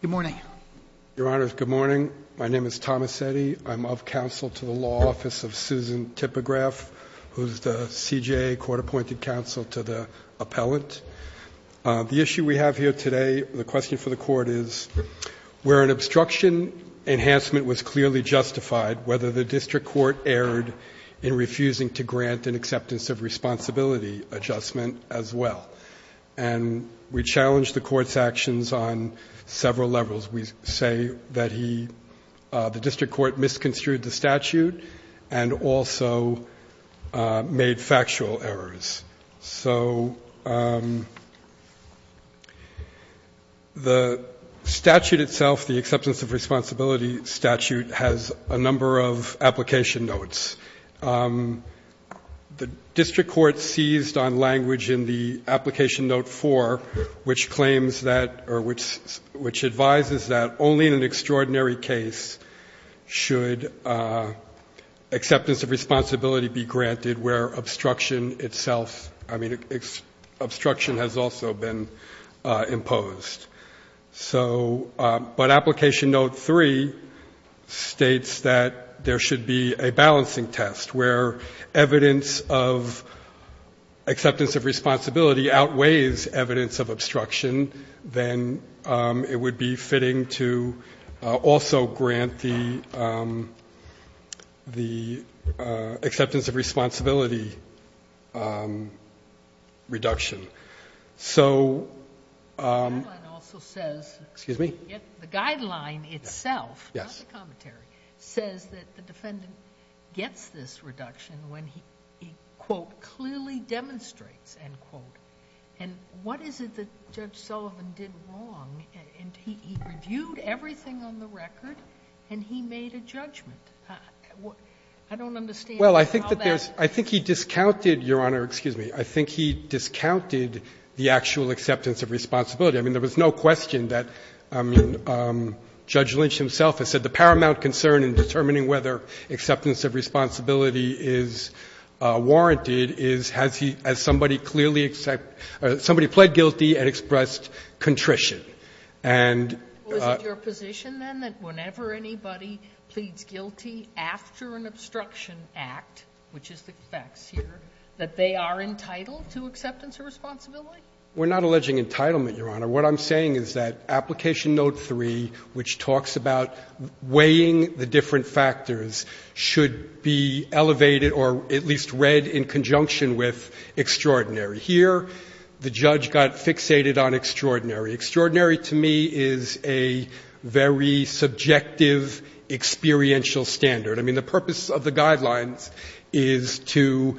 Good morning, Your Honor. Good morning. My name is Thomas Settey. I'm of counsel to the Law Office of Susan Tipograf, who's the CJA court-appointed counsel to the appellant. The issue we have here today, the question for the Court is, where an obstruction enhancement was clearly justified, whether the district court erred in refusing to grant an acceptance of responsibility adjustment as well. And we have several levels. We say that he, the district court misconstrued the statute and also made factual errors. So the statute itself, the acceptance of responsibility statute, has a number of application notes. The district court seized on language in the application note four, which claims that, or which advises that only in an extraordinary case should acceptance of responsibility be granted where obstruction itself, I mean, obstruction has also been imposed. So, but application note three states that there should be a balancing test where evidence of acceptance of responsibility outweighs evidence of obstruction than it would be fitting to also grant the acceptance of responsibility reduction. So... The guideline also says... Excuse me? The guideline itself, not the commentary, says that the defendant gets this reduction when he, quote, clearly demonstrates, end quote. And what is it that he did? He reviewed everything on the record and he made a judgment. I don't understand how that... Well, I think that there's – I think he discounted, Your Honor, excuse me, I think he discounted the actual acceptance of responsibility. I mean, there was no question that, I mean, Judge Lynch himself has said the paramount concern in determining whether acceptance of responsibility is warranted is has he, has somebody clearly pled guilty and expressed contrition. And... Well, is it your position, then, that whenever anybody pleads guilty after an obstruction act, which is the facts here, that they are entitled to acceptance of responsibility? We're not alleging entitlement, Your Honor. What I'm saying is that application note three, which talks about weighing the different factors, should be elevated or at least read in conjunction with extraordinary. Here, the judge got fixated on extraordinary. Extraordinary to me is a very subjective experiential standard. I mean, the purpose of the guidelines is to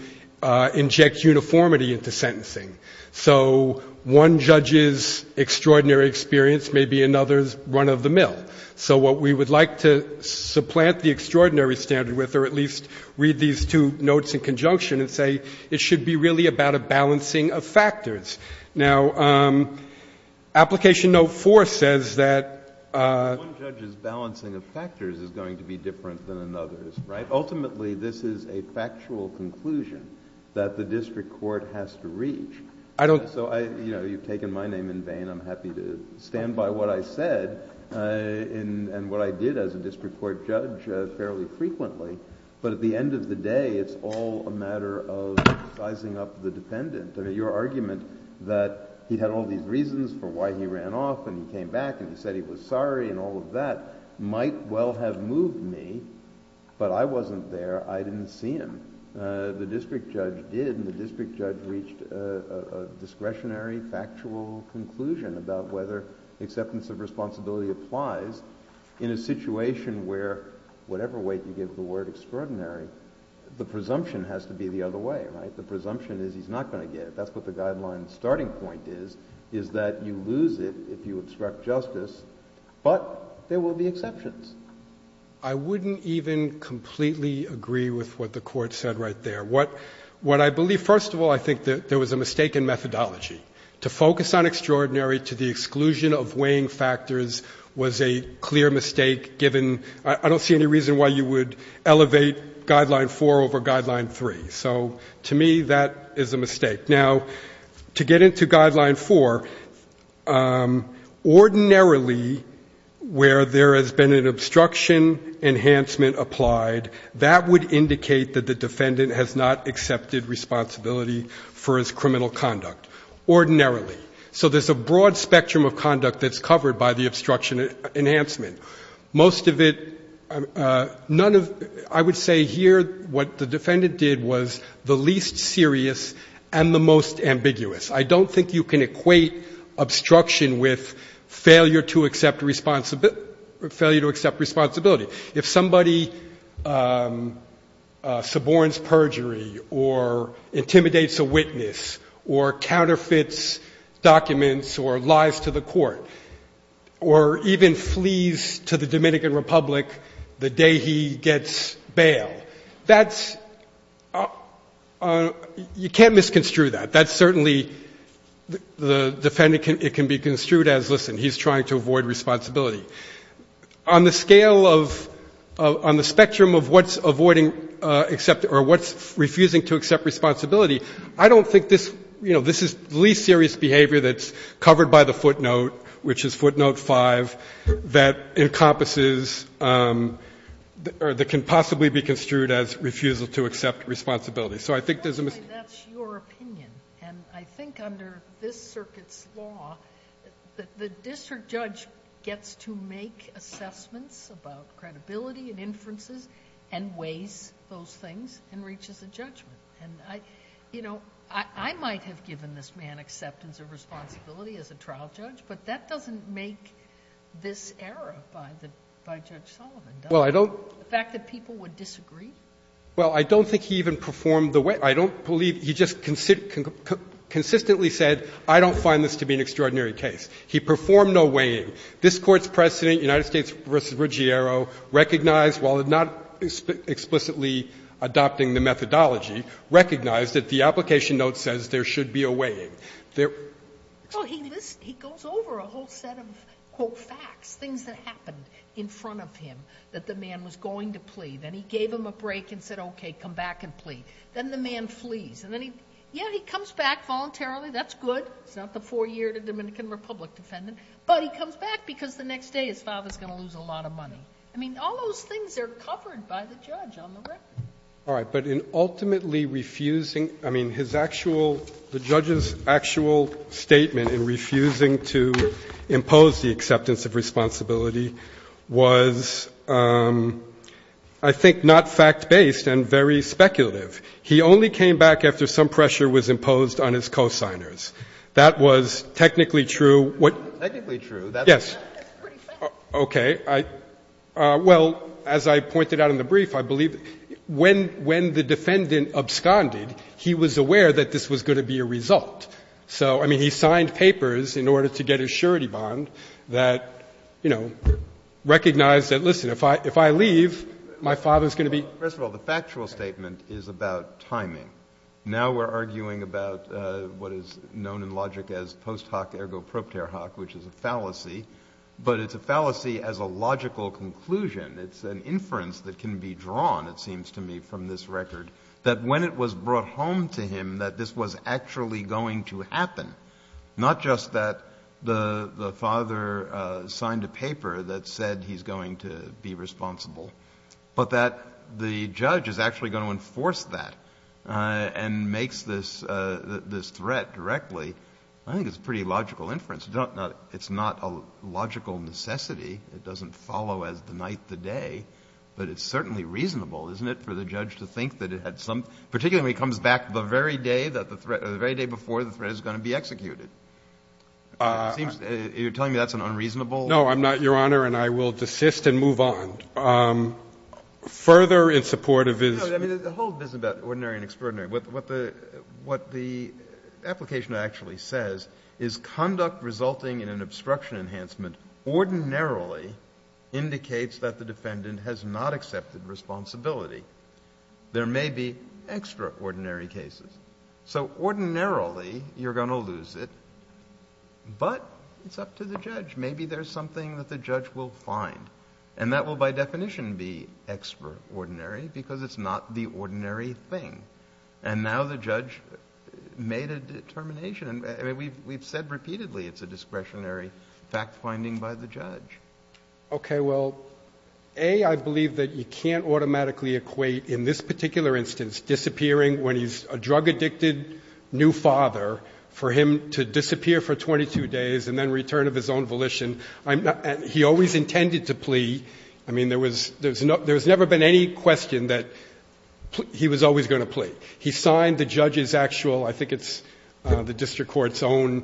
inject uniformity into sentencing. So one judge's extraordinary experience may be another's run of the mill. So what we would like to supplant the extraordinary standard with or at least read these two notes in conjunction and say it should be really about a balancing of factors. Now, application note four says that... One judge's balancing of factors is going to be different than another's, right? Ultimately, this is a factual conclusion that the district court has to reach. I don't... So I, you know, you've taken my name in vain. I'm happy to stand by what I said and what I did as a district court judge fairly frequently. But at the end of the day, it's all a matter of sizing up the defendant. I mean, your argument that he had all these reasons for why he ran off and he came back and he said he was sorry and all of that might well have moved me, but I wasn't there. I didn't see him. The district judge did, and the district judge reached a discretionary factual conclusion about whether acceptance of responsibility applies in a situation where whatever way you give the word extraordinary, the presumption has to be the other way, right? The presumption is he's not going to get it. That's what the guideline's starting point is, is that you lose it if you obstruct justice, but there will be exceptions. I wouldn't even completely agree with what the Court said right there. What I believe is, first of all, I think that there was a mistake in methodology. To focus on extraordinary to the exclusion of weighing factors was a clear mistake, given I don't see any reason why you would elevate Guideline 4 over Guideline 3. So to me, that is a mistake. Now, to get into Guideline 4, ordinarily where there has been an obstruction enhancement applied, that would indicate that the defendant has not accepted responsibility for his criminal conduct, ordinarily. So there's a broad spectrum of conduct that's covered by the obstruction enhancement. Most of it, none of, I would say here what the defendant did was the least serious and the most ambiguous. I don't think you can equate obstruction with failure to accept responsibility. If somebody suborns perjury or intimidates a witness or counterfeits documents or lies to the court or even flees to the Dominican Republic the day he gets bail, that's, you can't misconstrue that. That's certainly, the defendant, it can be construed as, listen, he's trying to avoid responsibility. On the scale of, on the spectrum of what's avoiding, or what's refusing to accept responsibility, I don't think this, you know, this is the least serious behavior that's covered by the footnote, which is footnote 5, that encompasses, or that can possibly be construed as refusal to accept responsibility. So I think there's a mistake. Sotomayor, that's your opinion. And I think under this circuit's law, the district judge gets to make assessments about credibility and inferences and weighs those things and reaches a judgment. And I, you know, I might have given this man acceptance of responsibility as a trial judge, but that doesn't make this error by the, by Judge Sullivan, does it? Well, I don't The fact that people would disagree? Well, I don't think he even performed the weighing. I don't believe, he just consistently said, I don't find this to be an extraordinary case. He performed no weighing. This Court's precedent, United States v. Ruggero, recognized while not explicitly adopting the methodology, recognized that the application note says there should be a weighing. There Well, he goes over a whole set of, quote, facts, things that happened in front of him that the man was going to plea. Then he gave him a break and said, okay, come back and plea. Then the man flees. And then he, yeah, he comes back voluntarily. That's good. It's not the four-year to Dominican Republic defendant. But he comes back because the next day his father's going to lose a lot of money. I mean, all those things are covered by the judge on the record. All right. But in ultimately refusing, I mean, his actual, the judge's actual statement in refusing to impose the acceptance of responsibility was, I think, not fact-based and very speculative. He only came back after some pressure was imposed on his cosigners. That was technically true. Technically true. Yes. That's pretty fact. Okay. Well, as I pointed out in the brief, I believe when the defendant absconded, he was aware that this was going to be a result. So, I mean, he signed papers in order to get a surety bond that, you know, recognized that, listen, if I leave, my father's going to be. Well, first of all, the factual statement is about timing. Now we're arguing about what is known in logic as post hoc ergo propter hoc, which is a fallacy. But it's a fallacy as a logical conclusion. It's an inference that can be drawn, it seems to me, from this record, that when it was brought home to him that this was actually going to happen, not just that the father signed a paper that said he's going to be responsible, but that the judge is actually going to enforce that and makes this threat directly. I think it's a pretty logical inference. It's not a logical necessity. It doesn't follow as the night, the day. But it's certainly reasonable, isn't it, for the judge to think that it had some — particularly when he comes back the very day that the threat — the very day before the threat is going to be executed. It seems — you're telling me that's an unreasonable — No, I'm not, Your Honor, and I will desist and move on. Further in support of his — No, I mean, the whole business about ordinary and extraordinary, what the — what the application actually says is conduct resulting in an obstruction enhancement ordinarily indicates that the defendant has not accepted responsibility. There may be extraordinary cases. So ordinarily, you're going to lose it, but it's up to the judge. Maybe there's something that the judge will find, and that will, by definition, be extraordinary because it's not the ordinary thing. And now the judge made a determination. I mean, we've said repeatedly it's a discretionary fact-finding by the judge. Okay. Well, A, I believe that you can't automatically equate in this particular instance disappearing when he's a drug-addicted new father, for him to disappear for 22 days and then return of his own volition. He always intended to plea. I mean, there was — there's never been any question that he was always going to plea. He signed the judge's actual — I think it's the district court's own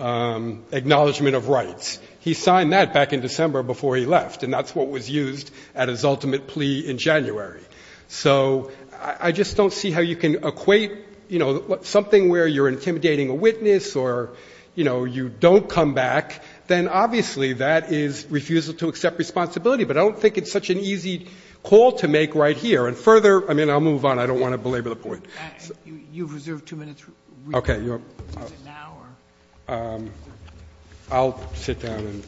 acknowledgment of rights. He signed that back in December before he left, and that's what was used at his ultimate plea in January. So I just don't see how you can equate, you know, something where you're right here, and further — I mean, I'll move on. I don't want to belabor the point. You've reserved two minutes. Okay. Is it now or — I'll sit down and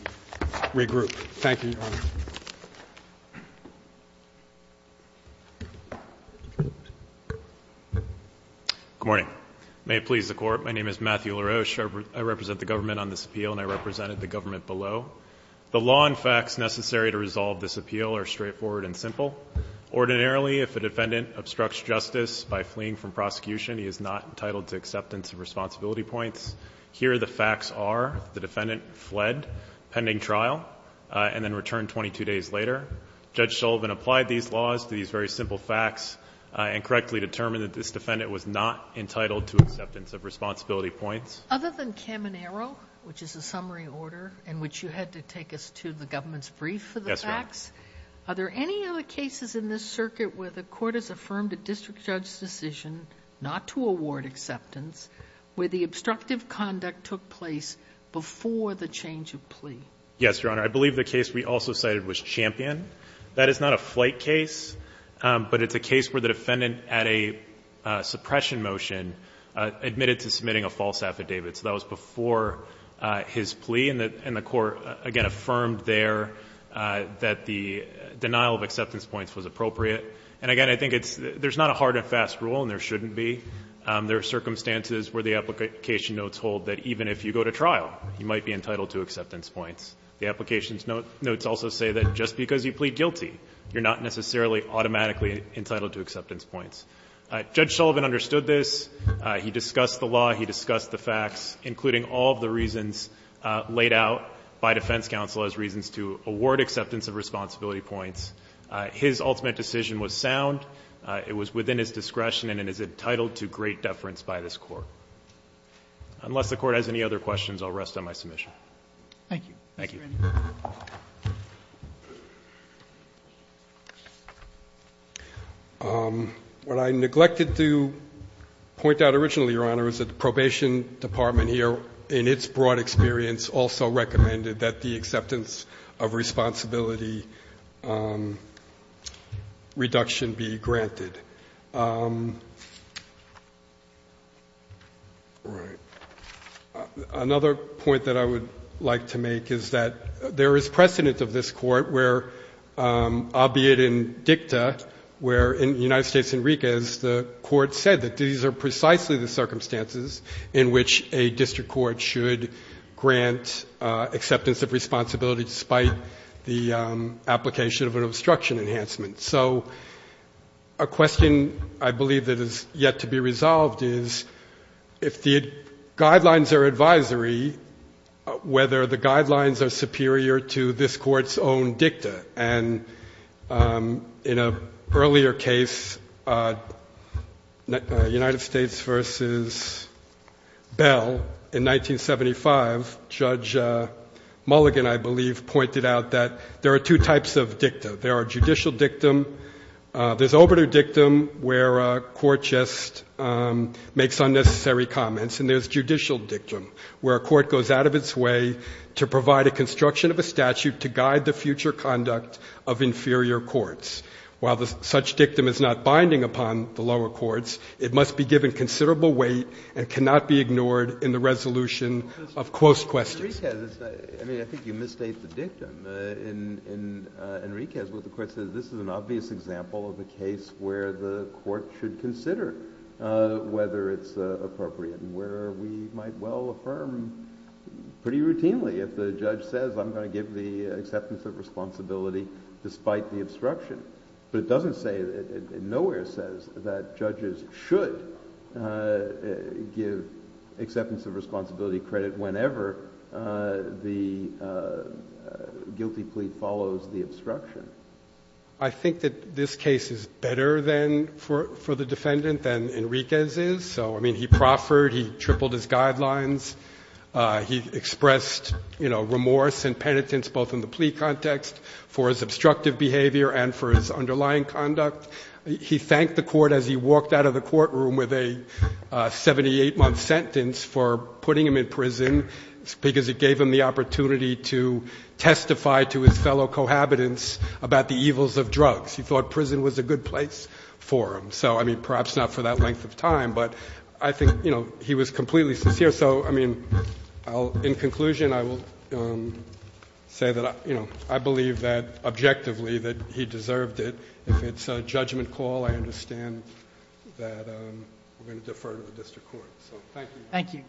regroup. Thank you, Your Honor. Good morning. May it please the Court, my name is Matthew LaRoche. I represent the government on this appeal, and I represented the government below. The law and facts necessary to resolve this appeal are straightforward and simple. Ordinarily, if a defendant obstructs justice by fleeing from prosecution, he is not entitled to acceptance of responsibility points. Here, the facts are the defendant fled pending trial and then returned 22 days later. Judge Sullivan applied these laws to these very simple facts and correctly determined that this defendant was not entitled to acceptance of responsibility points. Other than Caminero, which is a summary order in which you had to take us to the government's brief for the facts, are there any other cases in this circuit where the Court has affirmed a district judge's decision not to award acceptance where the obstructive conduct took place before the change of plea? Yes, Your Honor. I believe the case we also cited was Champion. That is not a flight case, but it's a case where the defendant, at a suppression motion, admitted to submitting a false affidavit. So that was before his plea, and the Court, again, affirmed there that the denial of acceptance points was appropriate. And again, I think there's not a hard and fast rule, and there shouldn't be. There are circumstances where the application notes hold that even if you go to trial, you might be entitled to acceptance points. The application notes also say that just because you plead guilty, you're not necessarily automatically entitled to acceptance points. Judge Sullivan understood this. He discussed the law. He discussed the facts, including all of the reasons laid out by defense counsel as reasons to award acceptance of responsibility points. His ultimate decision was sound. It was within his discretion, and it is entitled to great deference by this Court. Unless the Court has any other questions, I'll rest on my submission. Thank you. Thank you. What I neglected to point out originally, Your Honor, is that the Probation Department here, in its broad experience, also recommended that the acceptance of responsibility reduction be granted. Right. Another point that I would like to make is that there is precedent of this Court, albeit in dicta, where in the United States and Ricas, the Court said that these are precisely the circumstances in which a district court should grant acceptance of responsibility despite the application of an obstruction enhancement. So a question I believe that is yet to be resolved is if the guidelines are advisory, whether the guidelines are superior to this Court's own dicta. And in an earlier case, United States v. Bell in 1975, Judge Mulligan, I believe, pointed out that there are two types of dicta. There are judicial dictum. There's obituary dictum, where a court just makes unnecessary comments. And there's judicial dictum, where a court goes out of its way to provide a construction of a statute to guide the future conduct of inferior courts. While such dictum is not binding upon the lower courts, it must be given considerable weight and cannot be ignored in the resolution of close questions. Enriquez, I mean, I think you misstate the dictum. In Enriquez, what the Court says, this is an obvious example of a case where the Court should consider whether it's appropriate and where we might well affirm pretty routinely if the judge says I'm going to give the acceptance of responsibility despite the obstruction. But it doesn't say, nowhere says that judges should give acceptance of responsibility credit whenever the guilty plea follows the obstruction. I think that this case is better than, for the defendant, than Enriquez is. So, I mean, he proffered. He tripled his guidelines. He expressed, you know, remorse and penitence both in the plea context for his obstructive behavior and for his underlying conduct. He thanked the Court as he walked out of the courtroom with a 78-month sentence for putting him in prison because it gave him the opportunity to testify to his fellow cohabitants about the evils of drugs. He thought prison was a good place for him. So, I mean, perhaps not for that length of time, but I think, you know, he was completely sincere. So, I mean, in conclusion, I will say that, you know, I believe that objectively that he deserved it. If it's a judgment call, I understand that we're going to defer to the District Court. So, thank you.